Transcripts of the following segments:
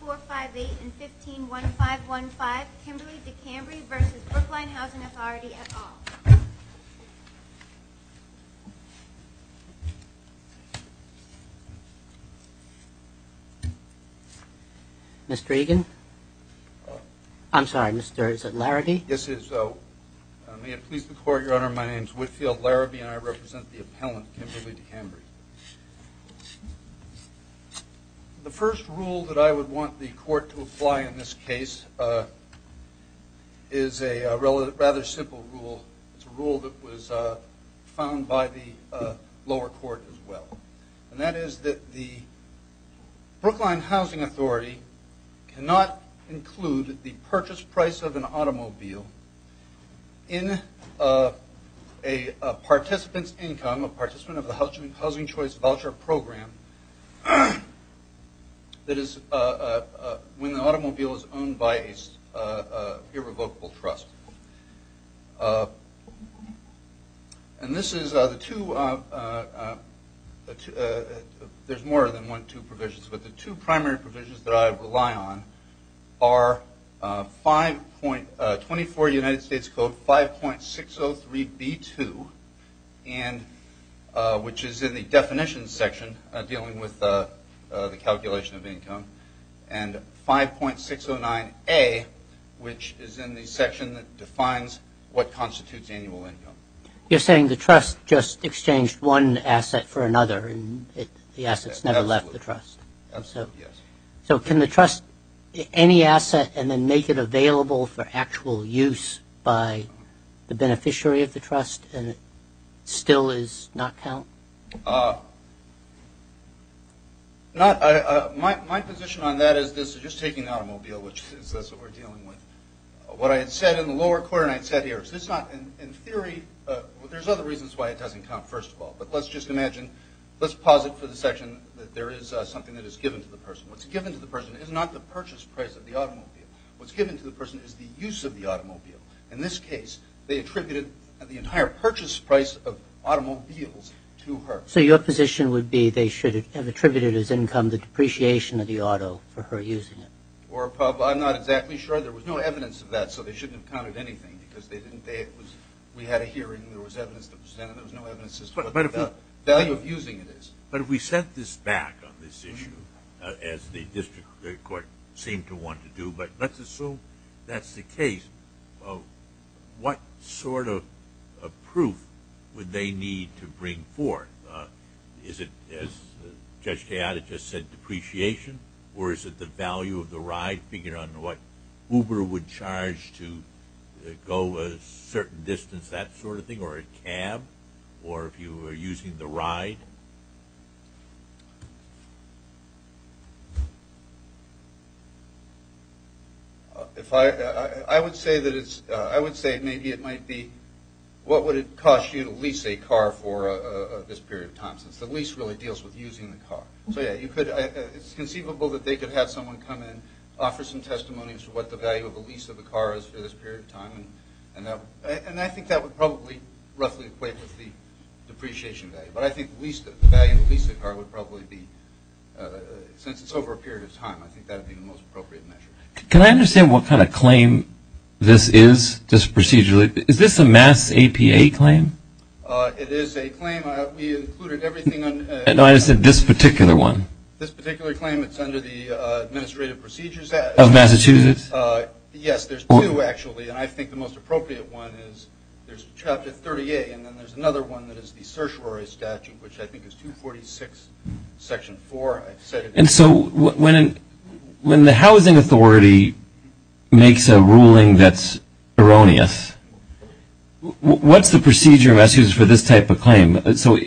4, 5, 8, and 15, 1, 5, 1, 5, Kimberly-DeCambre v. Brookline Housing Authority, et al. Mr. Egan? I'm sorry, Mr., is it Larrabee? Yes, it is so. May it please the Court, Your Honor, my name is Whitfield Larrabee, and I represent the appellant, Kimberly-DeCambre. The first rule that I would want the Court to apply in this case is a rather simple rule. It's a rule that was found by the lower court as well. And that is that the Brookline Housing Authority cannot include the purchase price of an automobile in a participant's income, a participant of the Housing Choice Voucher Program, that is when the automobile is owned by an irrevocable trust. And this is the two, there's more than one or two provisions, but the two primary provisions that I rely on are 24 United States Code 5.603B2, which is in the definition section dealing with the calculation of income, and 5.609A, which is in the section that defines what constitutes annual income. You're saying the trust just exchanged one asset for another and the assets never left the trust? Absolutely, yes. So can the trust, any asset, and then make it available for actual use by the beneficiary of the trust and it still does not count? My position on that is this is just taking the automobile, which is what we're dealing with. What I had said in the lower court and I had said here, in theory, there's other reasons why it doesn't count, first of all. But let's just imagine, let's posit for the section that there is something that is given to the person. What's given to the person is not the purchase price of the automobile. What's given to the person is the use of the automobile. In this case, they attributed the entire purchase price of automobiles to her. So your position would be they should have attributed as income the depreciation of the auto for her using it? I'm not exactly sure. There was no evidence of that, so they shouldn't have counted anything because we had a hearing, there was evidence that was done, and there was no evidence as to what the value of using it is. But if we set this back on this issue, as the district court seemed to want to do, but let's assume that's the case, what sort of proof would they need to bring forth? Is it, as Judge Tejada just said, depreciation, or is it the value of the ride, figuring out what Uber would charge to go a certain distance, that sort of thing, or a cab, or if you were using the ride? I would say maybe it might be what would it cost you to lease a car for this period of time, since the lease really deals with using the car. So yeah, it's conceivable that they could have someone come in, offer some testimonies for what the value of a lease of a car is for this period of time, and I think that would probably roughly equate with the depreciation value. But I think the value of the lease of a car would probably be, since it's over a period of time, I think that would be the most appropriate measure. Can I understand what kind of claim this is, this procedurally? Is this a mass APA claim? It is a claim. We included everything. No, I said this particular one. This particular claim, it's under the Administrative Procedures Act. Of Massachusetts? Yes, there's two, actually, and I think the most appropriate one is there's Chapter 38, and then there's another one that is the Certiorari Statute, which I think is 246, Section 4. And so when the housing authority makes a ruling that's erroneous, what's the procedure for this type of claim? So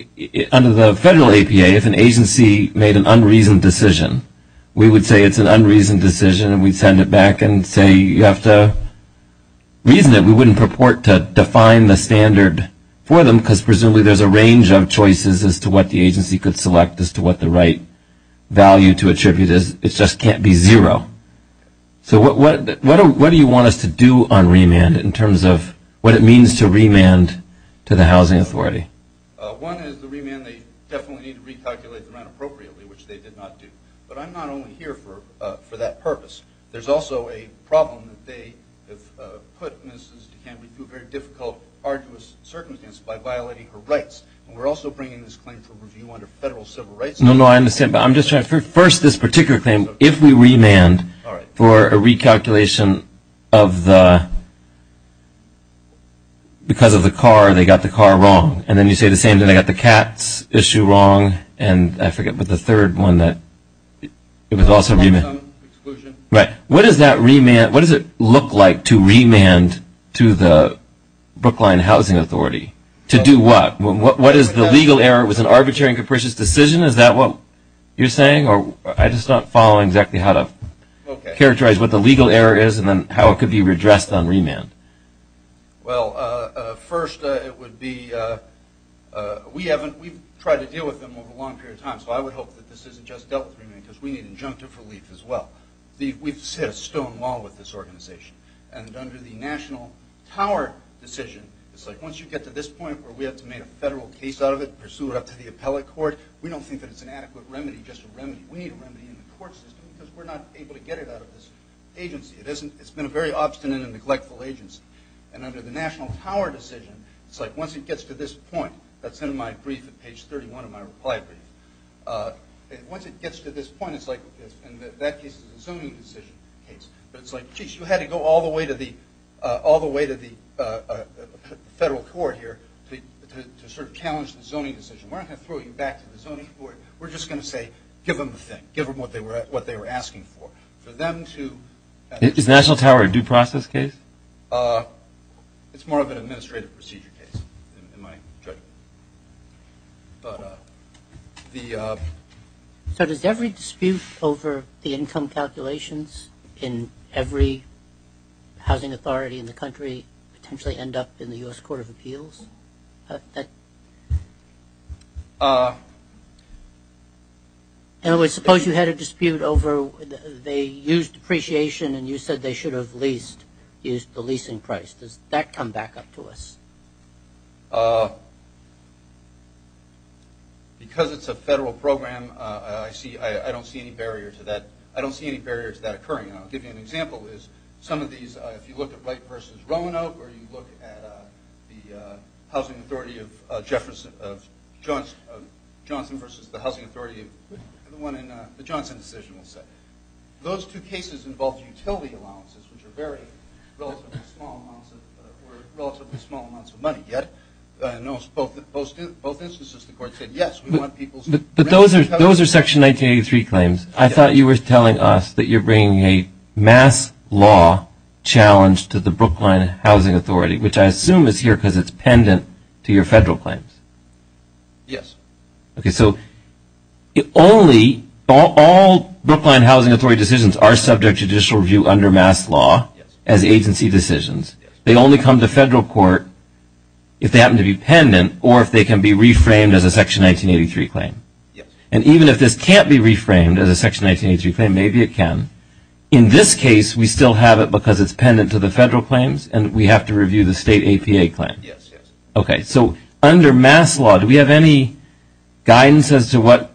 under the federal APA, if an agency made an unreasoned decision, we would say it's an unreasoned decision, and we'd send it back and say you have to reason it. We wouldn't purport to define the standard for them, because presumably there's a range of choices as to what the agency could select as to what the right value to attribute is. It just can't be zero. So what do you want us to do on remand in terms of what it means to remand to the housing authority? One is the remand, they definitely need to recalculate the rent appropriately, which they did not do. But I'm not only here for that purpose. There's also a problem that they have put Mrs. DeCambre through a very difficult, arduous circumstance by violating her rights, and we're also bringing this claim for review under federal civil rights. No, no, I understand, but I'm just trying to first this particular claim, if we remand for a recalculation of the, because of the car, they got the car wrong, and then you say the same thing, they got the cat's issue wrong, and I forget, but the third one that, it was also remand. What does that remand, what does it look like to remand to the Brookline Housing Authority? To do what? What is the legal error? Was it an arbitrary and capricious decision? Is that what you're saying? I'm just not following exactly how to characterize what the legal error is and then how it could be redressed on remand. Well, first, it would be, we haven't, we've tried to deal with them over a long period of time, so I would hope that this isn't just dealt with remand, because we need injunctive relief as well. We've set a stone wall with this organization, and under the National Tower decision, it's like once you get to this point where we have to make a federal case out of it, pursue it up to the appellate court, we don't think that it's an adequate remedy, just a remedy. We need a remedy in the court system, because we're not able to get it out of this agency. It's been a very obstinate and neglectful agency, and under the National Tower decision, it's like once it gets to this point, that's in my brief at page 31 of my reply brief, once it gets to this point, it's like, and that case is a zoning decision case, but it's like, geez, you had to go all the way to the federal court here to sort of challenge the zoning decision. We're not going to throw you back to the zoning board. We're just going to say, give them the thing. Give them what they were asking for. For them to – Is National Tower a due process case? It's more of an administrative procedure case, in my judgment. Does it potentially end up in the U.S. Court of Appeals? In other words, suppose you had a dispute over they used depreciation and you said they should have leased, used the leasing price. Does that come back up to us? Because it's a federal program, I don't see any barrier to that occurring. I'll give you an example. Some of these, if you look at Wright versus Roanoke or you look at the housing authority of Johnson versus the housing authority of the one in the Johnson decision, those two cases involved utility allowances, which are relatively small amounts of money. Yet in both instances the court said, yes, we want people's rent. But those are Section 1983 claims. I thought you were telling us that you're bringing a mass law challenge to the Brookline Housing Authority, which I assume is here because it's pendant to your federal claims. Yes. Okay, so all Brookline Housing Authority decisions are subject to judicial review under mass law as agency decisions. They only come to federal court if they happen to be pendant or if they can be reframed as a Section 1983 claim. Yes. And even if this can't be reframed as a Section 1983 claim, maybe it can. In this case, we still have it because it's pendant to the federal claims and we have to review the state APA claim. Yes, yes. Okay, so under mass law, do we have any guidance as to what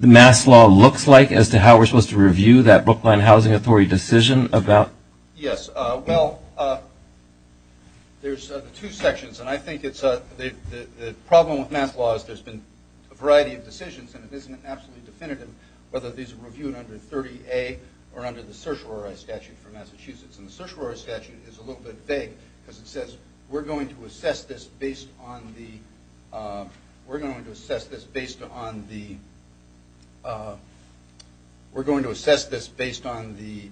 mass law looks like as to how we're supposed to review that Brookline Housing Authority decision? Yes. Well, there's two sections, and I think the problem with mass law is there's been a variety of decisions, and it isn't absolutely definitive whether these are reviewed under 30A or under the certiorari statute for Massachusetts. And the certiorari statute is a little bit vague because it says we're going to assess this based on the – we're going to assess this based on the – we're going to assess this based on the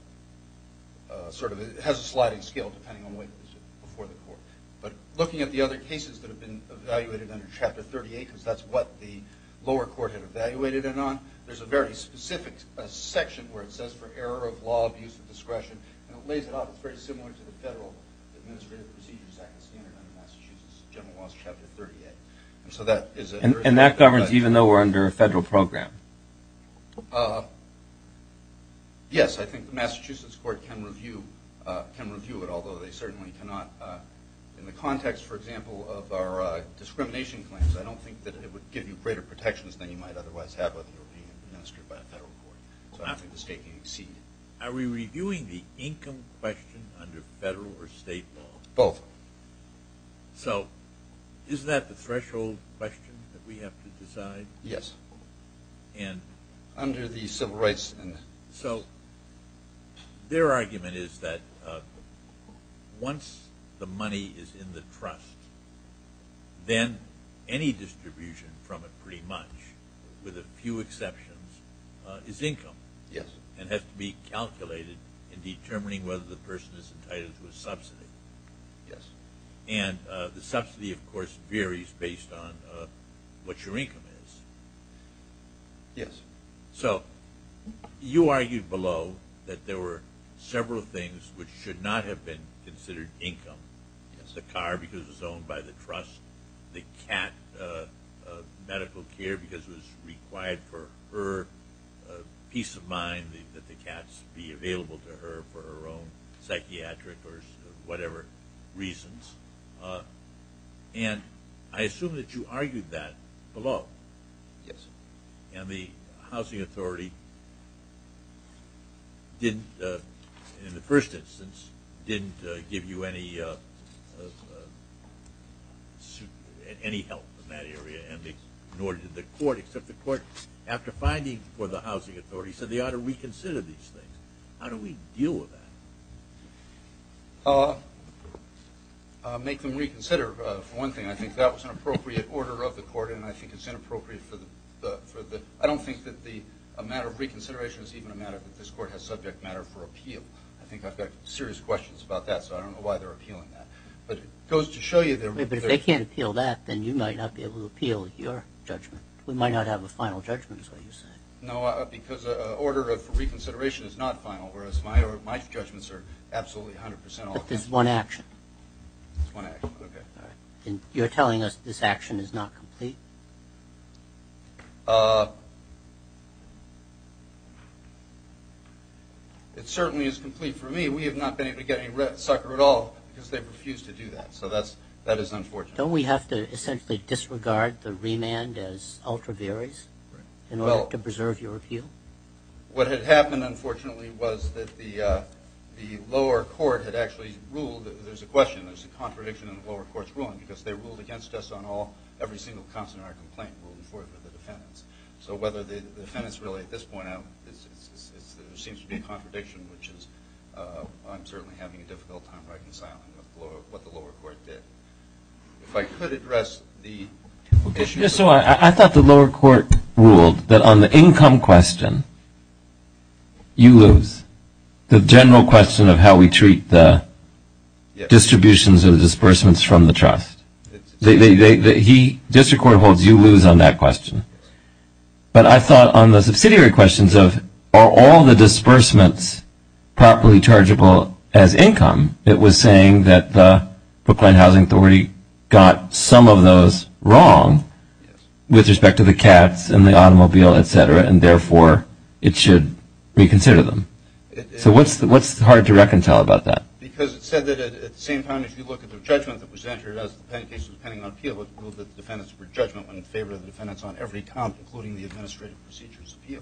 – sort of it has a sliding scale depending on the way it was before the court. But looking at the other cases that have been evaluated under Chapter 38, because that's what the lower court had evaluated it on, there's a very specific section where it says for error of law, abuse of discretion, and it lays it out very similar to the Federal Administrative Procedures Act and standard under Massachusetts General Laws Chapter 38. And so that is a – And that governs even though we're under a federal program? Yes, I think the Massachusetts court can review it, although they certainly cannot in the context, for example, of our discrimination claims. I don't think that it would give you greater protections than you might otherwise have whether you were being administered by a federal court. So I think the state can exceed it. Are we reviewing the income question under federal or state law? Both. So is that the threshold question that we have to decide? Yes. Under the civil rights and – So their argument is that once the money is in the trust, then any distribution from it pretty much, with a few exceptions, is income. Yes. And has to be calculated in determining whether the person is entitled to a subsidy. Yes. And the subsidy, of course, varies based on what your income is. Yes. So you argued below that there were several things which should not have been considered income. Yes. The car because it's owned by the trust, the cat medical care because it was required for her peace of mind that the cats be available to her for her own psychiatric or whatever reasons. And I assume that you argued that below. Yes. And the housing authority didn't, in the first instance, didn't give you any help in that area, nor did the court except the court after finding for the housing authority said they ought to reconsider these things. How do we deal with that? Make them reconsider. For one thing, I think that was an appropriate order of the court, and I think it's inappropriate for the – I don't think that a matter of reconsideration is even a matter that this court has subject matter for appeal. I think I've got serious questions about that, so I don't know why they're appealing that. But it goes to show you that – But if they can't appeal that, then you might not be able to appeal your judgment. We might not have a final judgment, is what you're saying. No, because an order of reconsideration is not final, whereas my judgments are absolutely 100 percent – But there's one action. There's one action, okay. And you're telling us this action is not complete? It certainly is complete for me. We have not been able to get any red sucker at all because they refused to do that, so that is unfortunate. Don't we have to essentially disregard the remand as ultra varies in order to preserve your appeal? What had happened, unfortunately, was that the lower court had actually ruled – there's a question. There's a contradiction in the lower court's ruling because they ruled against us on all – every single consonant in our complaint ruled for the defendants. So whether the defendants really at this point have – there seems to be a contradiction, which is – I'm certainly having a difficult time reconciling what the lower court did. If I could address the issue – Just so I – I thought the lower court ruled that on the income question, you lose. The general question of how we treat the distributions or the disbursements from the trust. They – he – district court holds you lose on that question. But I thought on the subsidiary questions of are all the disbursements properly chargeable as income, it was saying that the Planned Housing Authority got some of those wrong with respect to the cats and the automobile, et cetera, and therefore it should reconsider them. So what's – what's hard to reconcile about that? Because it said that at the same time as you look at the judgment that was entered as the case was pending on appeal, it ruled that the defendants were judgment when in favor of the defendants on every count, including the administrative procedures appeal.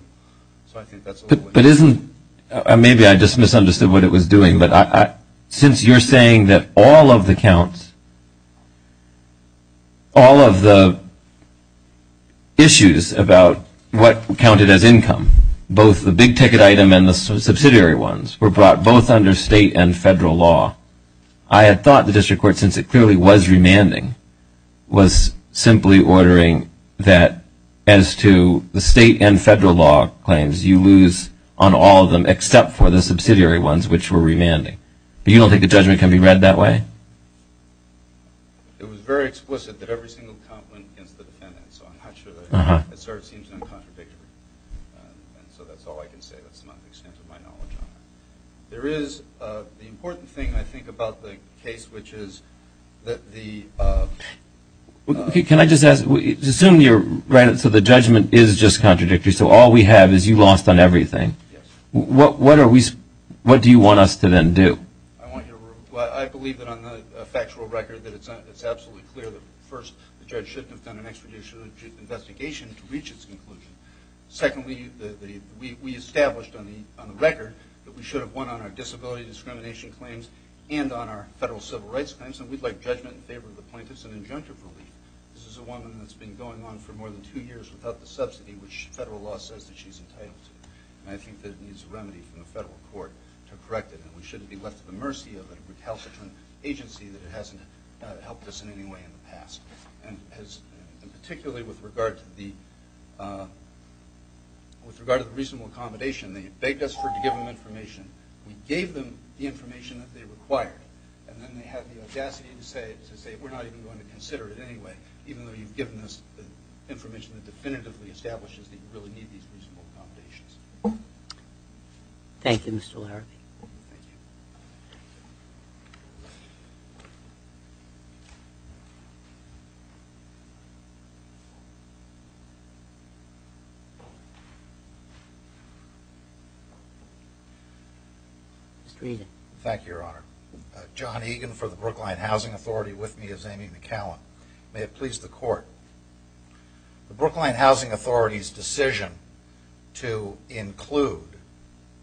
So I think that's a little – But isn't – maybe I just misunderstood what it was doing. But since you're saying that all of the counts, all of the issues about what counted as income, both the big ticket item and the subsidiary ones, were brought both under state and federal law, I had thought the district court, since it clearly was remanding, was simply ordering that as to the state and federal law claims, you lose on all of them except for the subsidiary ones, which were remanding. But you don't think the judgment can be read that way? It was very explicit that every single count went against the defendants. So I'm not sure that – it sort of seems uncontradictory. And so that's all I can say. That's not the extent of my knowledge on that. There is the important thing, I think, about the case, which is that the – Can I just ask – assume you're – so the judgment is just contradictory, so all we have is you lost on everything. Yes. What are we – what do you want us to then do? I want you to – well, I believe that on the factual record that it's absolutely clear that, first, the judge shouldn't have done an extradition investigation to reach its conclusion. Secondly, we established on the record that we should have won on our disability discrimination claims and on our federal civil rights claims, and we'd like judgment in favor of the plaintiffs and injunctive relief. This is a woman that's been going on for more than two years without the subsidy, which federal law says that she's entitled to. And I think that it needs a remedy from the federal court to correct it. And we shouldn't be left to the mercy of a recalcitrant agency that hasn't helped us in any way in the past. And particularly with regard to the reasonable accommodation, they begged us to give them information. We gave them the information that they required, and then they had the audacity to say, we're not even going to consider it anyway, even though you've given us the information that definitively establishes that you really need these reasonable accommodations. Thank you, Mr. Laramie. Thank you. Mr. Egan. Thank you, Your Honor. John Egan for the Brookline Housing Authority with me as Amy McCallum. May it please the Court. The Brookline Housing Authority's decision to include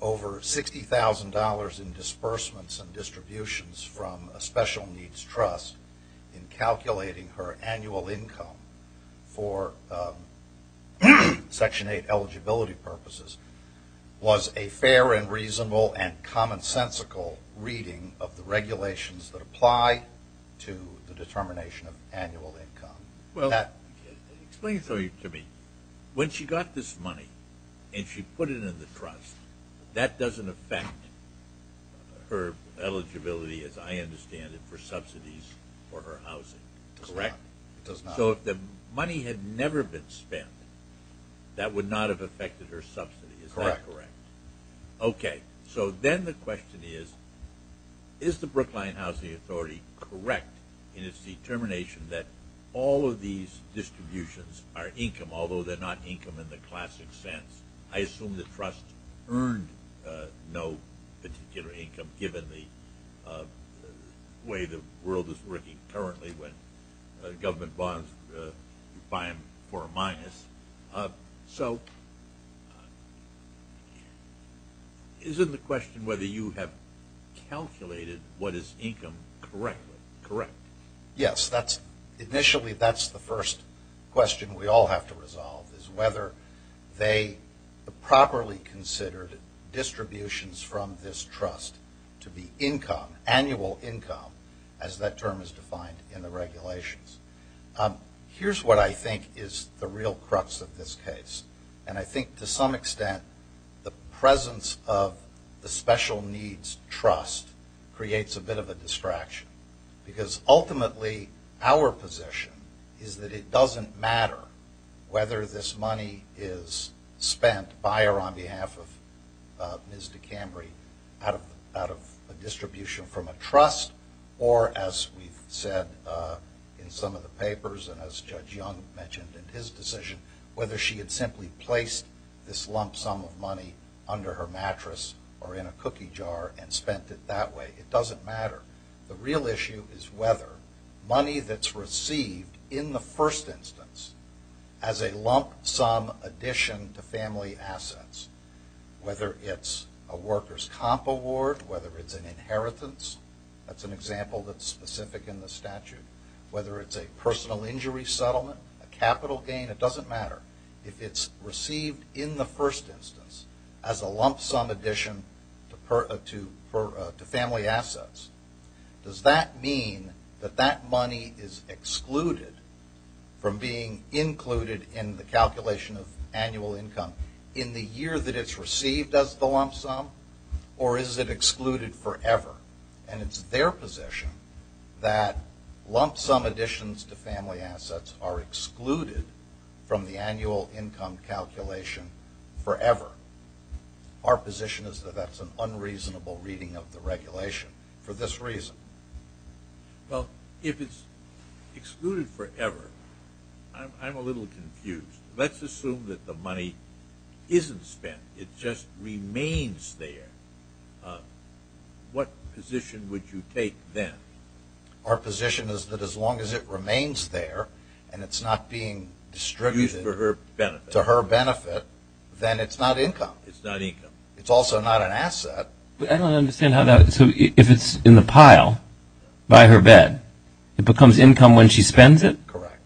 over $60,000 in disbursements and distributions from a special needs trust in calculating her annual income for Section 8 eligibility purposes was a fair and reasonable and commonsensical reading of the regulations that apply to the determination of annual income. Explain to me, when she got this money and she put it in the trust, that doesn't affect her eligibility, as I understand it, for subsidies for her housing, correct? It does not. So if the money had never been spent, that would not have affected her subsidy. Is that correct? Correct. Okay. So then the question is, is the Brookline Housing Authority correct in its determination that all of these distributions are income, although they're not income in the classic sense? I assume the trust earned no particular income, given the way the world is working currently when government bonds you buy them for a minus. So is it the question whether you have calculated what is income correctly? Correct. Yes. Initially, that's the first question we all have to resolve, is whether they properly considered distributions from this trust to be income, annual income, as that term is defined in the regulations. Here's what I think is the real crux of this case, and I think to some extent the presence of the special needs trust creates a bit of a distraction, because ultimately our position is that it doesn't matter whether this money is spent by or on behalf of Ms. DeCambry out of a distribution from a trust or, as we've said in some of the papers and as Judge Young mentioned in his decision, whether she had simply placed this lump sum of money under her mattress or in a cookie jar and spent it that way. It doesn't matter. The real issue is whether money that's received in the first instance as a lump sum addition to family assets, whether it's a workers' comp award, whether it's an inheritance, that's an example that's specific in the statute, whether it's a personal injury settlement, a capital gain, it doesn't matter. If it's received in the first instance as a lump sum addition to family assets, does that mean that that money is excluded from being included in the calculation of annual income in the year that it's received as the lump sum, or is it excluded forever? And it's their position that lump sum additions to family assets are excluded from the annual income calculation forever. Our position is that that's an unreasonable reading of the regulation for this reason. Well, if it's excluded forever, I'm a little confused. Let's assume that the money isn't spent. It just remains there. What position would you take then? Our position is that as long as it remains there and it's not being distributed to her benefit, then it's not income. It's not income. It's also not an asset. I don't understand how that – so if it's in the pile by her bed, it becomes income when she spends it? Correct.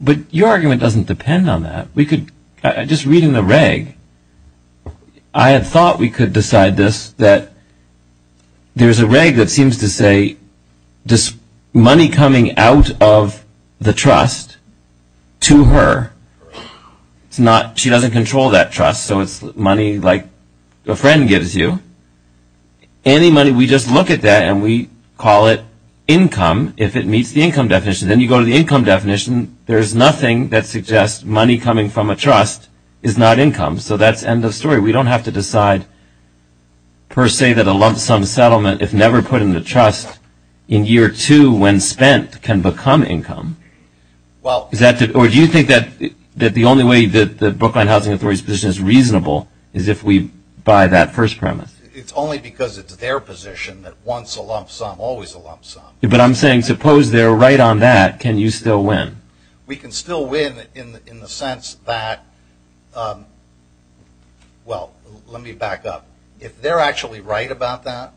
But your argument doesn't depend on that. We could – just reading the reg, I had thought we could decide this, that there's a reg that seems to say money coming out of the trust to her, she doesn't control that trust, so it's money like a friend gives you. Any money, we just look at that and we call it income if it meets the income definition. Then you go to the income definition, there's nothing that suggests money coming from a trust is not income. So that's the end of the story. We don't have to decide per se that a lump sum settlement, if never put in the trust in year two when spent, can become income. Or do you think that the only way that the Brookline Housing Authority's position is reasonable is if we buy that first premise? It's only because it's their position that once a lump sum, always a lump sum. But I'm saying suppose they're right on that, can you still win? We can still win in the sense that – well, let me back up. If they're actually right about that,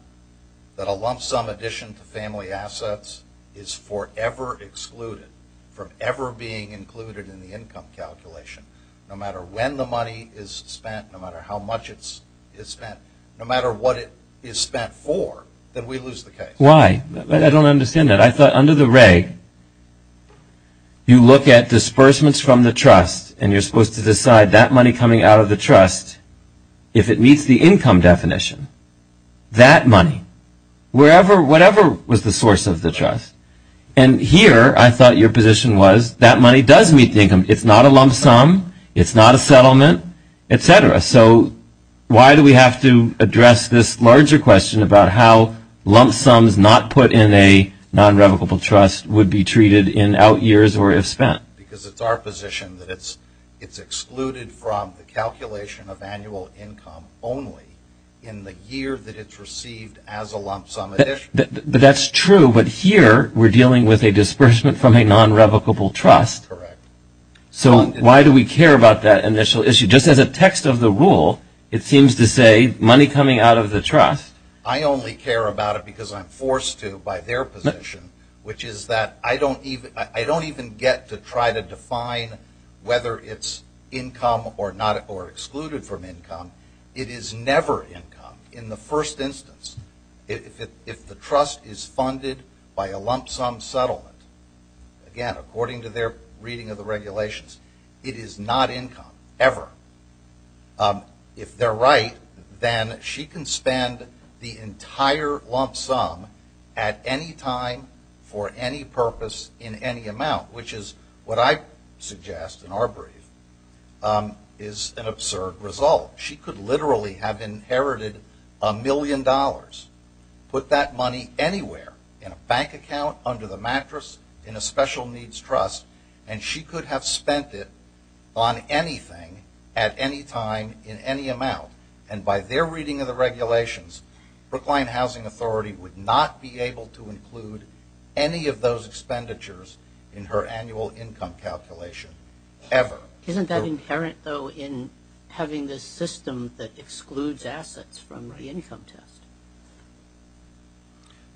that a lump sum addition to family assets is forever excluded from ever being included in the income calculation, no matter when the money is spent, no matter how much it's spent, no matter what it is spent for, then we lose the case. Why? I don't understand that. I thought under the reg, you look at disbursements from the trust and you're supposed to decide that money coming out of the trust, if it meets the income definition, that money, whatever was the source of the trust. And here I thought your position was that money does meet the income. It's not a lump sum. It's not a settlement, et cetera. So why do we have to address this larger question about how lump sums not put in a nonrevocable trust would be treated in out years or if spent? Because it's our position that it's excluded from the calculation of annual income only in the year that it's received as a lump sum addition. That's true, but here we're dealing with a disbursement from a nonrevocable trust. Correct. So why do we care about that initial issue? Just as a text of the rule, it seems to say money coming out of the trust. I only care about it because I'm forced to by their position, which is that I don't even get to try to define whether it's income or excluded from income. It is never income. In the first instance, if the trust is funded by a lump sum settlement, again, according to their reading of the regulations, it is not income, ever. If they're right, then she can spend the entire lump sum at any time for any purpose in any amount, which is what I suggest in our brief is an absurd result. She could literally have inherited a million dollars, put that money anywhere, in a bank account, under the mattress, in a special needs trust, and she could have spent it on anything at any time in any amount. And by their reading of the regulations, Brookline Housing Authority would not be able to include any of those expenditures in her annual income calculation, ever. Isn't that inherent, though, in having this system that excludes assets from the income test?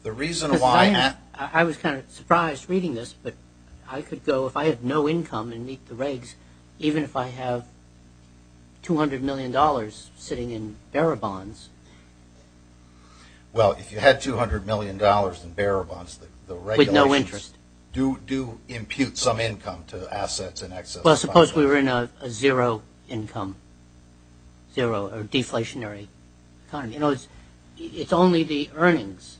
The reason why... I was kind of surprised reading this, but I could go, if I had no income and meet the regs, even if I have $200 million sitting in bearer bonds... Well, if you had $200 million in bearer bonds, the regulations... With no interest. Do impute some income to assets in excess of... Well, suppose we were in a zero income, zero or deflationary economy. You know, it's only the earnings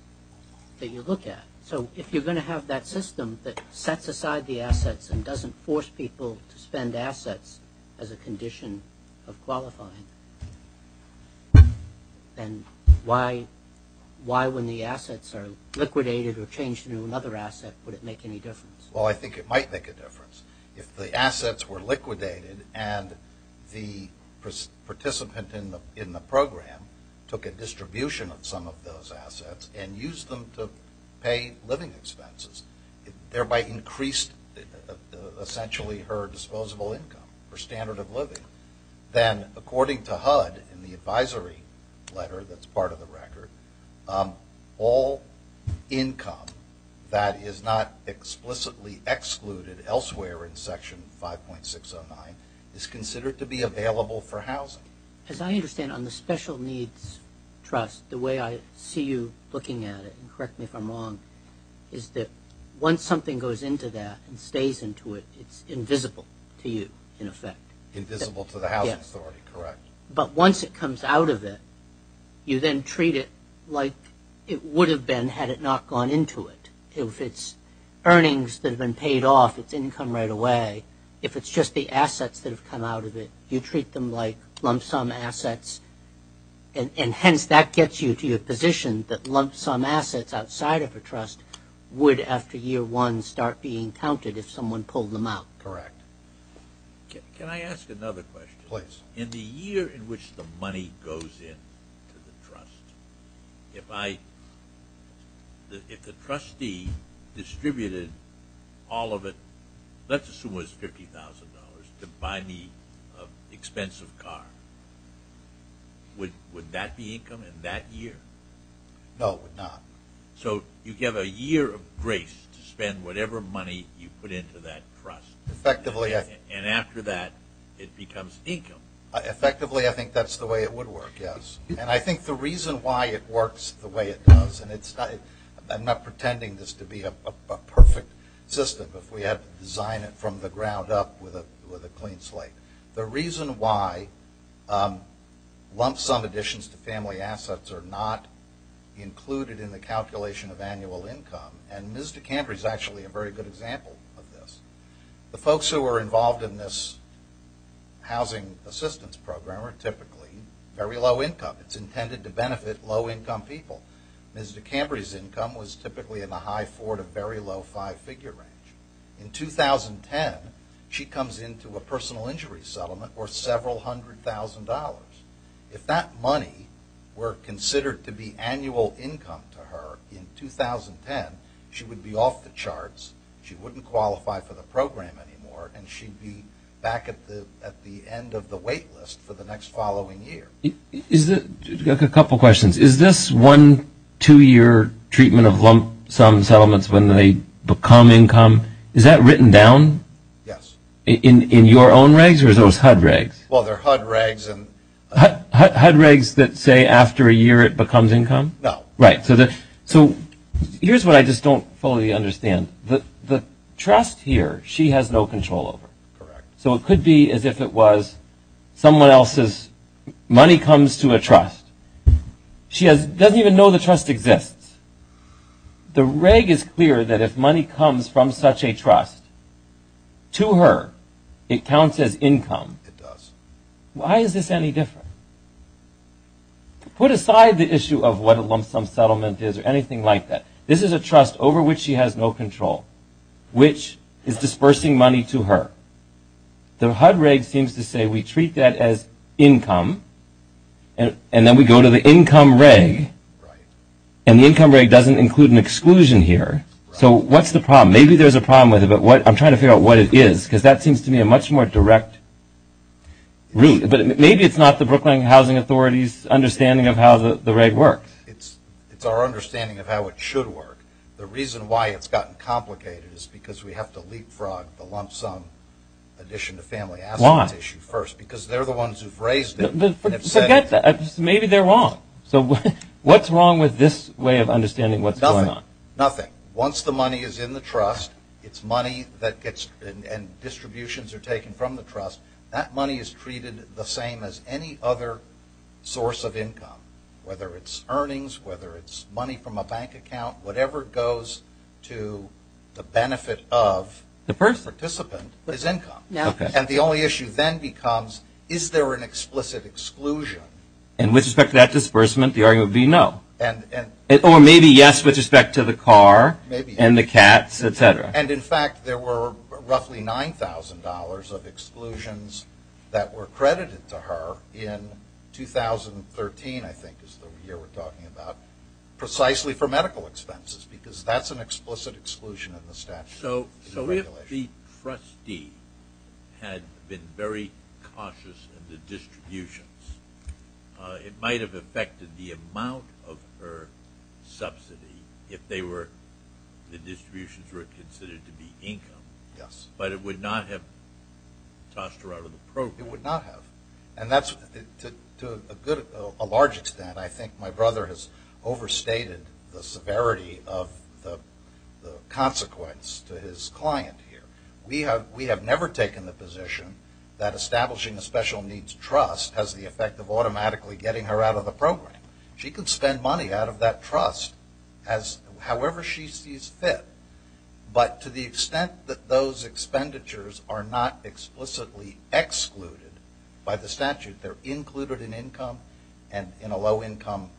that you look at. So if you're going to have that system that sets aside the assets and doesn't force people to spend assets as a condition of qualifying, then why, when the assets are liquidated or changed into another asset, would it make any difference? Well, I think it might make a difference. If the assets were liquidated and the participant in the program took a distribution of some of those assets and used them to pay living expenses, it thereby increased essentially her disposable income, her standard of living. Then, according to HUD, in the advisory letter that's part of the record, all income that is not explicitly excluded elsewhere in Section 5.609 is considered to be available for housing. As I understand, on the special needs trust, the way I see you looking at it, and correct me if I'm wrong, is that once something goes into that and stays into it, it's invisible to you, in effect. Invisible to the housing authority, correct. But once it comes out of it, you then treat it like it would have been had it not gone into it. If it's earnings that have been paid off, it's income right away. If it's just the assets that have come out of it, you treat them like lump sum assets, and hence that gets you to your position that lump sum assets outside of a trust would, after year one, start being counted if someone pulled them out. Correct. Can I ask another question? Please. In the year in which the money goes into the trust, if the trustee distributed all of it, let's assume it was $50,000, to buy me an expensive car, would that be income in that year? No, it would not. So you give a year of grace to spend whatever money you put into that trust. Effectively, yes. And after that, it becomes income. Effectively, I think that's the way it would work, yes. And I think the reason why it works the way it does, and I'm not pretending this to be a perfect system, if we had to design it from the ground up with a clean slate. The reason why lump sum additions to family assets are not included in the calculation of annual income, and Ms. DeCamper is actually a very good example of this, the folks who are involved in this housing assistance program are typically very low income. It's intended to benefit low-income people. Ms. DeCamper's income was typically in the high 4 to very low 5-figure range. In 2010, she comes into a personal injury settlement worth several hundred thousand dollars. If that money were considered to be annual income to her in 2010, she would be off the charts. She wouldn't qualify for the program anymore, and she'd be back at the end of the wait list for the next following year. I've got a couple of questions. Is this one two-year treatment of lump sum settlements when they become income? Is that written down? Yes. In your own regs or those HUD regs? Well, they're HUD regs. HUD regs that say after a year it becomes income? No. Right. So here's what I just don't fully understand. The trust here she has no control over. Correct. So it could be as if it was someone else's money comes to a trust. She doesn't even know the trust exists. The reg is clear that if money comes from such a trust to her, it counts as income. It does. Why is this any different? Put aside the issue of what a lump sum settlement is or anything like that. This is a trust over which she has no control, which is dispersing money to her. The HUD reg seems to say we treat that as income, and then we go to the income reg, and the income reg doesn't include an exclusion here. So what's the problem? Maybe there's a problem with it, but I'm trying to figure out what it is because that seems to me a much more direct route. Maybe it's not the Brooklyn Housing Authority's understanding of how the reg works. It's our understanding of how it should work. The reason why it's gotten complicated is because we have to leapfrog the lump sum addition to family assets issue first because they're the ones who've raised it. Forget that. Maybe they're wrong. So what's wrong with this way of understanding what's going on? Nothing. Once the money is in the trust, it's money that gets and distributions are taken from the trust. That money is treated the same as any other source of income, whether it's earnings, whether it's money from a bank account. Whatever goes to the benefit of the participant is income. And the only issue then becomes is there an explicit exclusion? And with respect to that disbursement, the argument would be no. Or maybe yes with respect to the car and the cats, et cetera. And, in fact, there were roughly $9,000 of exclusions that were credited to her in 2013, I think, is the year we're talking about, precisely for medical expenses because that's an explicit exclusion in the statute. So if the trustee had been very cautious in the distributions, it might have affected the amount of her subsidy if the distributions were considered to be income. Yes. But it would not have tossed her out of the program. It would not have. And to a large extent, I think my brother has overstated the severity of the consequence to his client here. We have never taken the position that establishing a special needs trust has the effect of automatically getting her out of the program. She can spend money out of that trust however she sees fit. But to the extent that those expenditures are not explicitly excluded by the statute, they're included in income, and in a low-income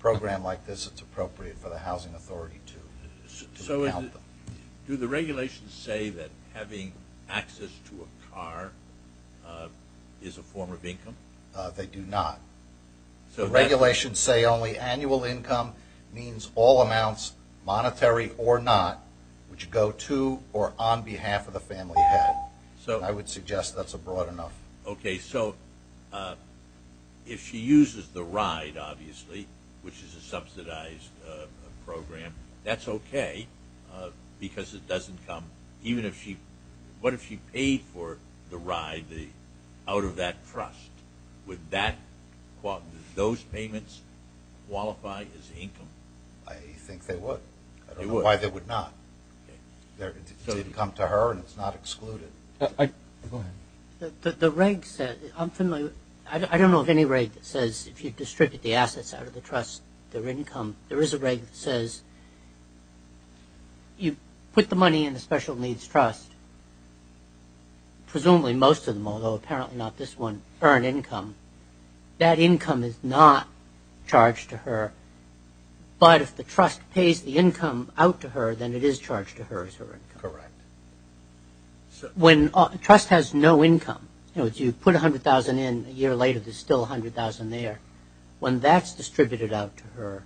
program like this, it's appropriate for the housing authority to count them. Do the regulations say that having access to a car is a form of income? They do not. The regulations say only annual income means all amounts, monetary or not, which go to or on behalf of the family head. I would suggest that's a broad enough. Okay, so if she uses the ride, obviously, which is a subsidized program, that's okay because it doesn't come. What if she paid for the ride out of that trust? Would those payments qualify as income? I think they would. They would. I don't know why they would not. It would come to her and it's not excluded. Go ahead. The regs, I don't know of any reg that says if you distribute the assets out of the trust, their income. There is a reg that says you put the money in the special needs trust, presumably most of them, although apparently not this one, earn income. That income is not charged to her. But if the trust pays the income out to her, then it is charged to her as her income. Correct. When a trust has no income, you put $100,000 in, a year later there's still $100,000 there. When that's distributed out to her,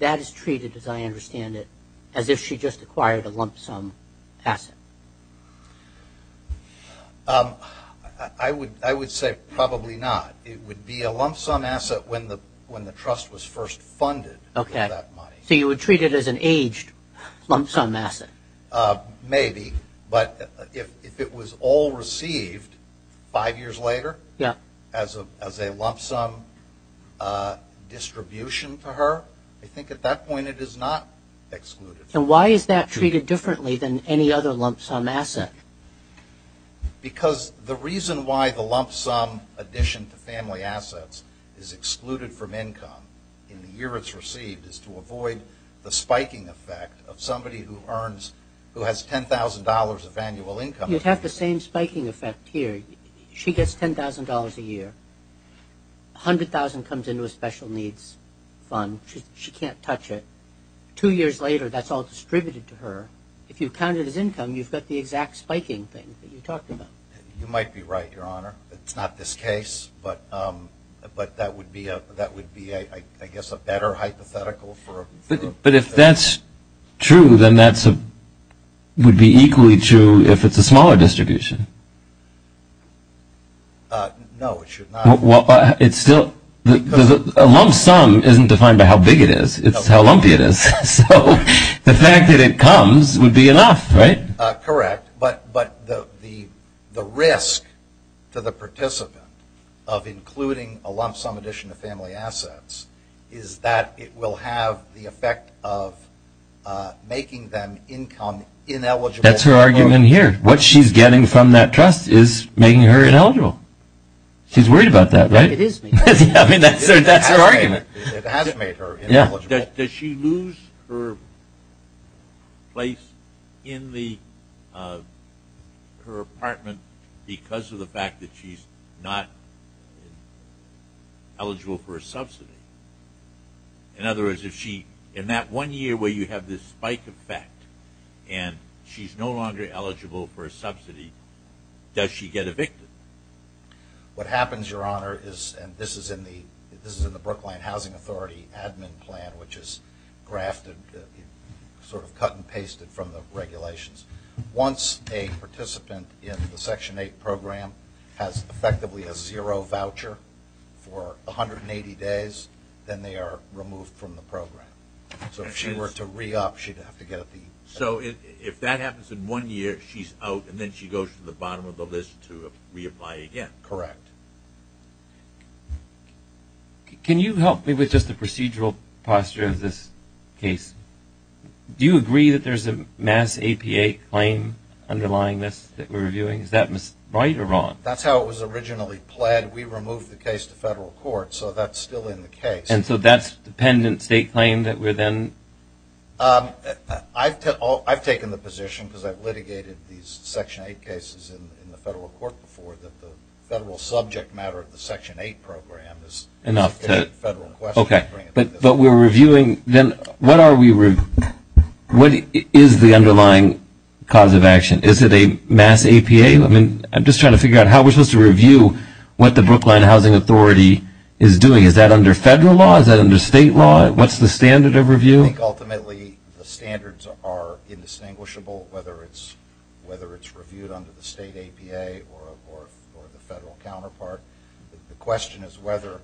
that is treated, as I understand it, as if she just acquired a lump sum asset. I would say probably not. It would be a lump sum asset when the trust was first funded for that money. So you would treat it as an aged lump sum asset? Maybe. But if it was all received five years later as a lump sum distribution to her, I think at that point it is not excluded. Why is that treated differently than any other lump sum asset? Because the reason why the lump sum addition to family assets is excluded from income in the year it's received is to avoid the spiking effect of somebody who has $10,000 of annual income. You'd have the same spiking effect here. She gets $10,000 a year. $100,000 comes into a special needs fund. She can't touch it. Two years later that's all distributed to her. If you count it as income, you've got the exact spiking thing that you talked about. You might be right, Your Honor. It's not this case, but that would be, I guess, a better hypothetical. But if that's true, then that would be equally true if it's a smaller distribution. No, it should not. Well, it's still – a lump sum isn't defined by how big it is. It's how lumpy it is. So the fact that it comes would be enough, right? Correct, but the risk to the participant of including a lump sum addition to family assets is that it will have the effect of making them income-ineligible. That's her argument here. What she's getting from that trust is making her ineligible. She's worried about that, right? It is. I mean, that's her argument. It has made her ineligible. Does she lose her place in her apartment because of the fact that she's not eligible for a subsidy? In other words, in that one year where you have this spike effect and she's no longer eligible for a subsidy, does she get evicted? What happens, Your Honor, is – and this is in the Brookline Housing Authority Admin Plan, which is grafted, sort of cut and pasted from the regulations. Once a participant in the Section 8 program has effectively a zero voucher for 180 days, then they are removed from the program. So if she were to re-up, she'd have to get up the – So if that happens in one year, she's out, and then she goes to the bottom of the list to reapply again. Correct. Can you help me with just the procedural posture of this case? Do you agree that there's a MAS APA claim underlying this that we're reviewing? Is that right or wrong? That's how it was originally pled. We removed the case to federal court, so that's still in the case. And so that's the pendant state claim that we're then – I've taken the position, because I've litigated these Section 8 cases in the federal court before, that the federal subject matter of the Section 8 program is a federal question. Okay, but we're reviewing – then what are we – what is the underlying cause of action? Is it a MAS APA? I'm just trying to figure out how we're supposed to review what the Brookline Housing Authority is doing. Is that under federal law? Is that under state law? What's the standard of review? I think, ultimately, the standards are indistinguishable, whether it's reviewed under the state APA or the federal counterpart. The question is whether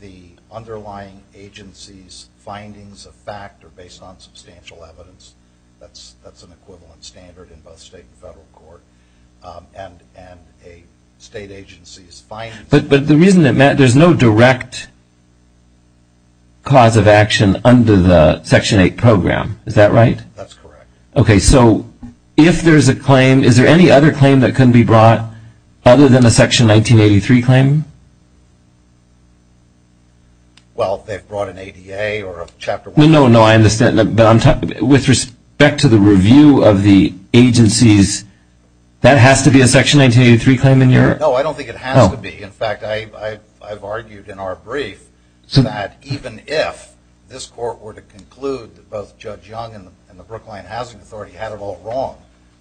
the underlying agency's findings of fact are based on substantial evidence. That's an equivalent standard in both state and federal court. And a state agency's findings – But the reason it matters – there's no direct cause of action under the Section 8 program. Is that right? That's correct. Okay, so if there's a claim, is there any other claim that can be brought other than a Section 1983 claim? Well, they've brought an ADA or a Chapter 1. No, no, I understand, but I'm talking – with respect to the review of the agencies, that has to be a Section 1983 claim in your – In fact, I've argued in our brief that even if this court were to conclude that both Judge Young and the Brookline Housing Authority had it all wrong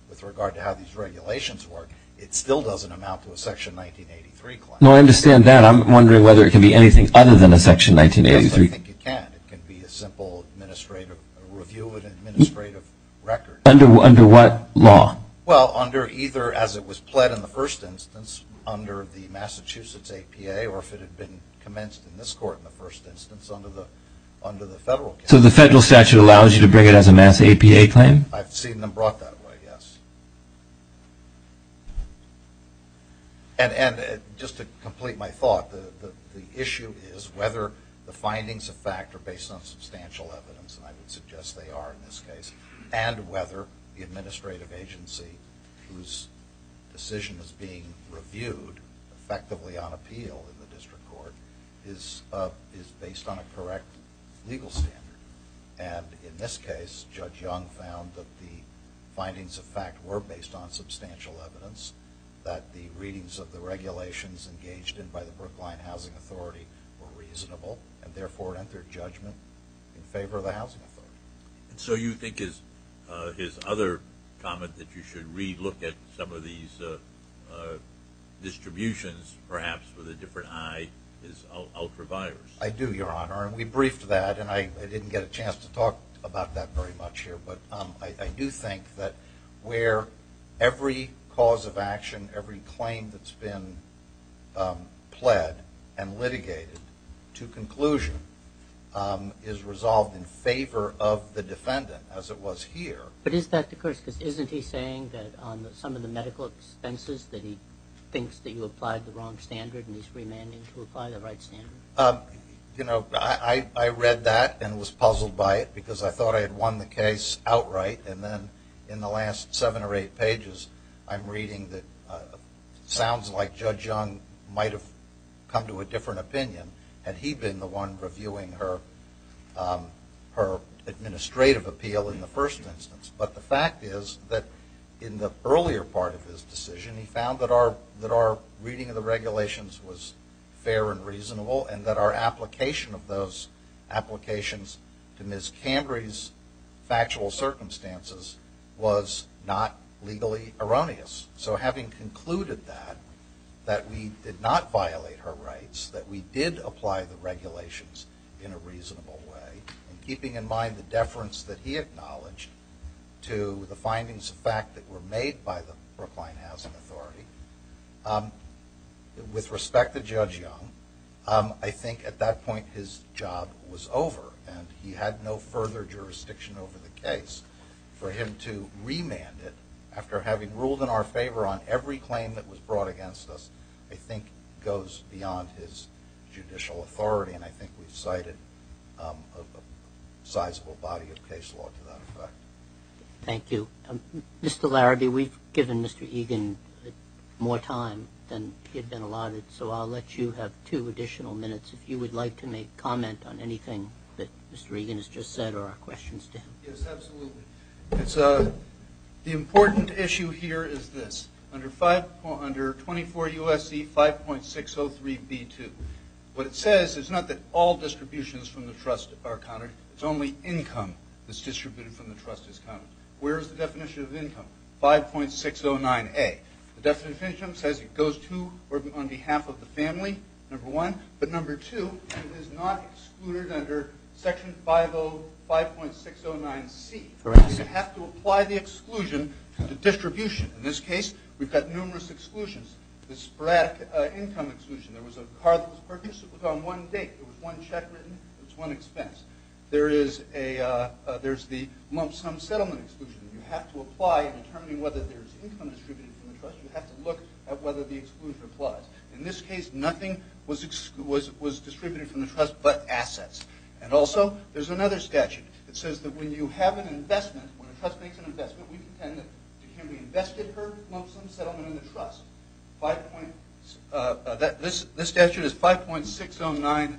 with regard to how these regulations work, it still doesn't amount to a Section 1983 claim. No, I understand that. I'm wondering whether it can be anything other than a Section 1983 claim. Yes, I think it can. It can be a simple review of an administrative record. Under what law? Well, under either – as it was pled in the first instance under the Massachusetts APA or if it had been commenced in this court in the first instance under the federal case. So the federal statute allows you to bring it as a Mass. APA claim? I've seen them brought that way, yes. And just to complete my thought, the issue is whether the findings of fact are based on substantial evidence, and I would suggest they are in this case, and whether the administrative agency whose decision is being reviewed effectively on appeal in the district court is based on a correct legal standard. And in this case, Judge Young found that the findings of fact were based on substantial evidence, that the readings of the regulations engaged in by the Brookline Housing Authority were reasonable and therefore entered judgment in favor of the housing authority. And so you think his other comment that you should re-look at some of these distributions, perhaps with a different eye, is ultraviolence? I do, Your Honor, and we briefed that, and I didn't get a chance to talk about that very much here, but I do think that where every cause of action, every claim that's been pled and litigated to conclusion is resolved in favor of the defendant, as it was here. But is that the case? Because isn't he saying that on some of the medical expenses that he thinks that you applied the wrong standard and he's remanding to apply the right standard? You know, I read that and was puzzled by it because I thought I had won the case outright, and then in the last seven or eight pages, I'm reading that it sounds like Judge Young might have come to a different opinion had he been the one reviewing her administrative appeal in the first instance. But the fact is that in the earlier part of his decision, he found that our reading of the regulations was fair and reasonable and that our application of those applications to Ms. Cambry's factual circumstances was not legally erroneous. So having concluded that, that we did not violate her rights, that we did apply the regulations in a reasonable way, and keeping in mind the deference that he acknowledged to the findings of fact that were made by the Brookline Housing Authority, with respect to Judge Young, I think at that point his job was over and he had no further jurisdiction over the case. For him to remand it after having ruled in our favor on every claim that was brought against us, I think goes beyond his judicial authority, and I think we've cited a sizable body of case law to that effect. Thank you. Mr. Larrabee, we've given Mr. Egan more time than he had been allotted, so I'll let you have two additional minutes if you would like to make comment on anything that Mr. Egan has just said or questions to him. Yes, absolutely. The important issue here is this, under 24 U.S.C. 5.603B2, what it says is not that all distributions from the trust are counted, it's only income that's distributed from the trust is counted. Where is the definition of income? 5.609A. The definition says it goes to or on behalf of the family, number one, but number two, it is not excluded under Section 505.609C. Correct. You have to apply the exclusion to the distribution. In this case, we've got numerous exclusions. The sporadic income exclusion, there was a car that was purchased, it was on one date, it was one check written, it was one expense. There's the lump sum settlement exclusion. You have to apply in determining whether there's income distributed from the trust, you have to look at whether the exclusion applies. In this case, nothing was distributed from the trust but assets. And also, there's another statute that says that when you have an investment, when a trust makes an investment, we contend that it can be invested per lump sum settlement in the trust. This statute is 5.609B3.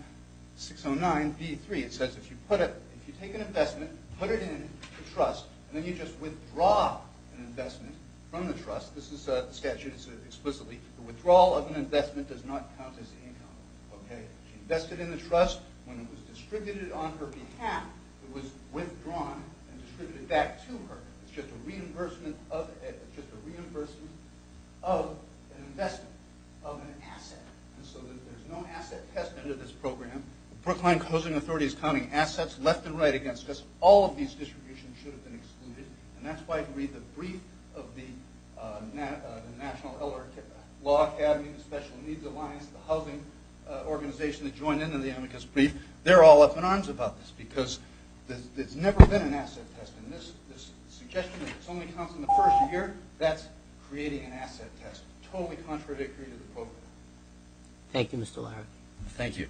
It says if you take an investment, put it in the trust, and then you just withdraw an investment from the trust, this is the statute explicitly, the withdrawal of an investment does not count as income. She invested in the trust when it was distributed on her behalf. It was withdrawn and distributed back to her. It's just a reimbursement of an investment of an asset. And so there's no asset test under this program. The Brookline Housing Authority is counting assets left and right against us. All of these distributions should have been excluded. And that's why, if you read the brief of the National Law Academy, the Special Needs Alliance, the housing organization that joined into the amicus brief, they're all up in arms about this because there's never been an asset test. And this suggestion that this only counts in the first year, that's creating an asset test, totally contradictory to the program. Thank you, Mr. Lowry. Thank you.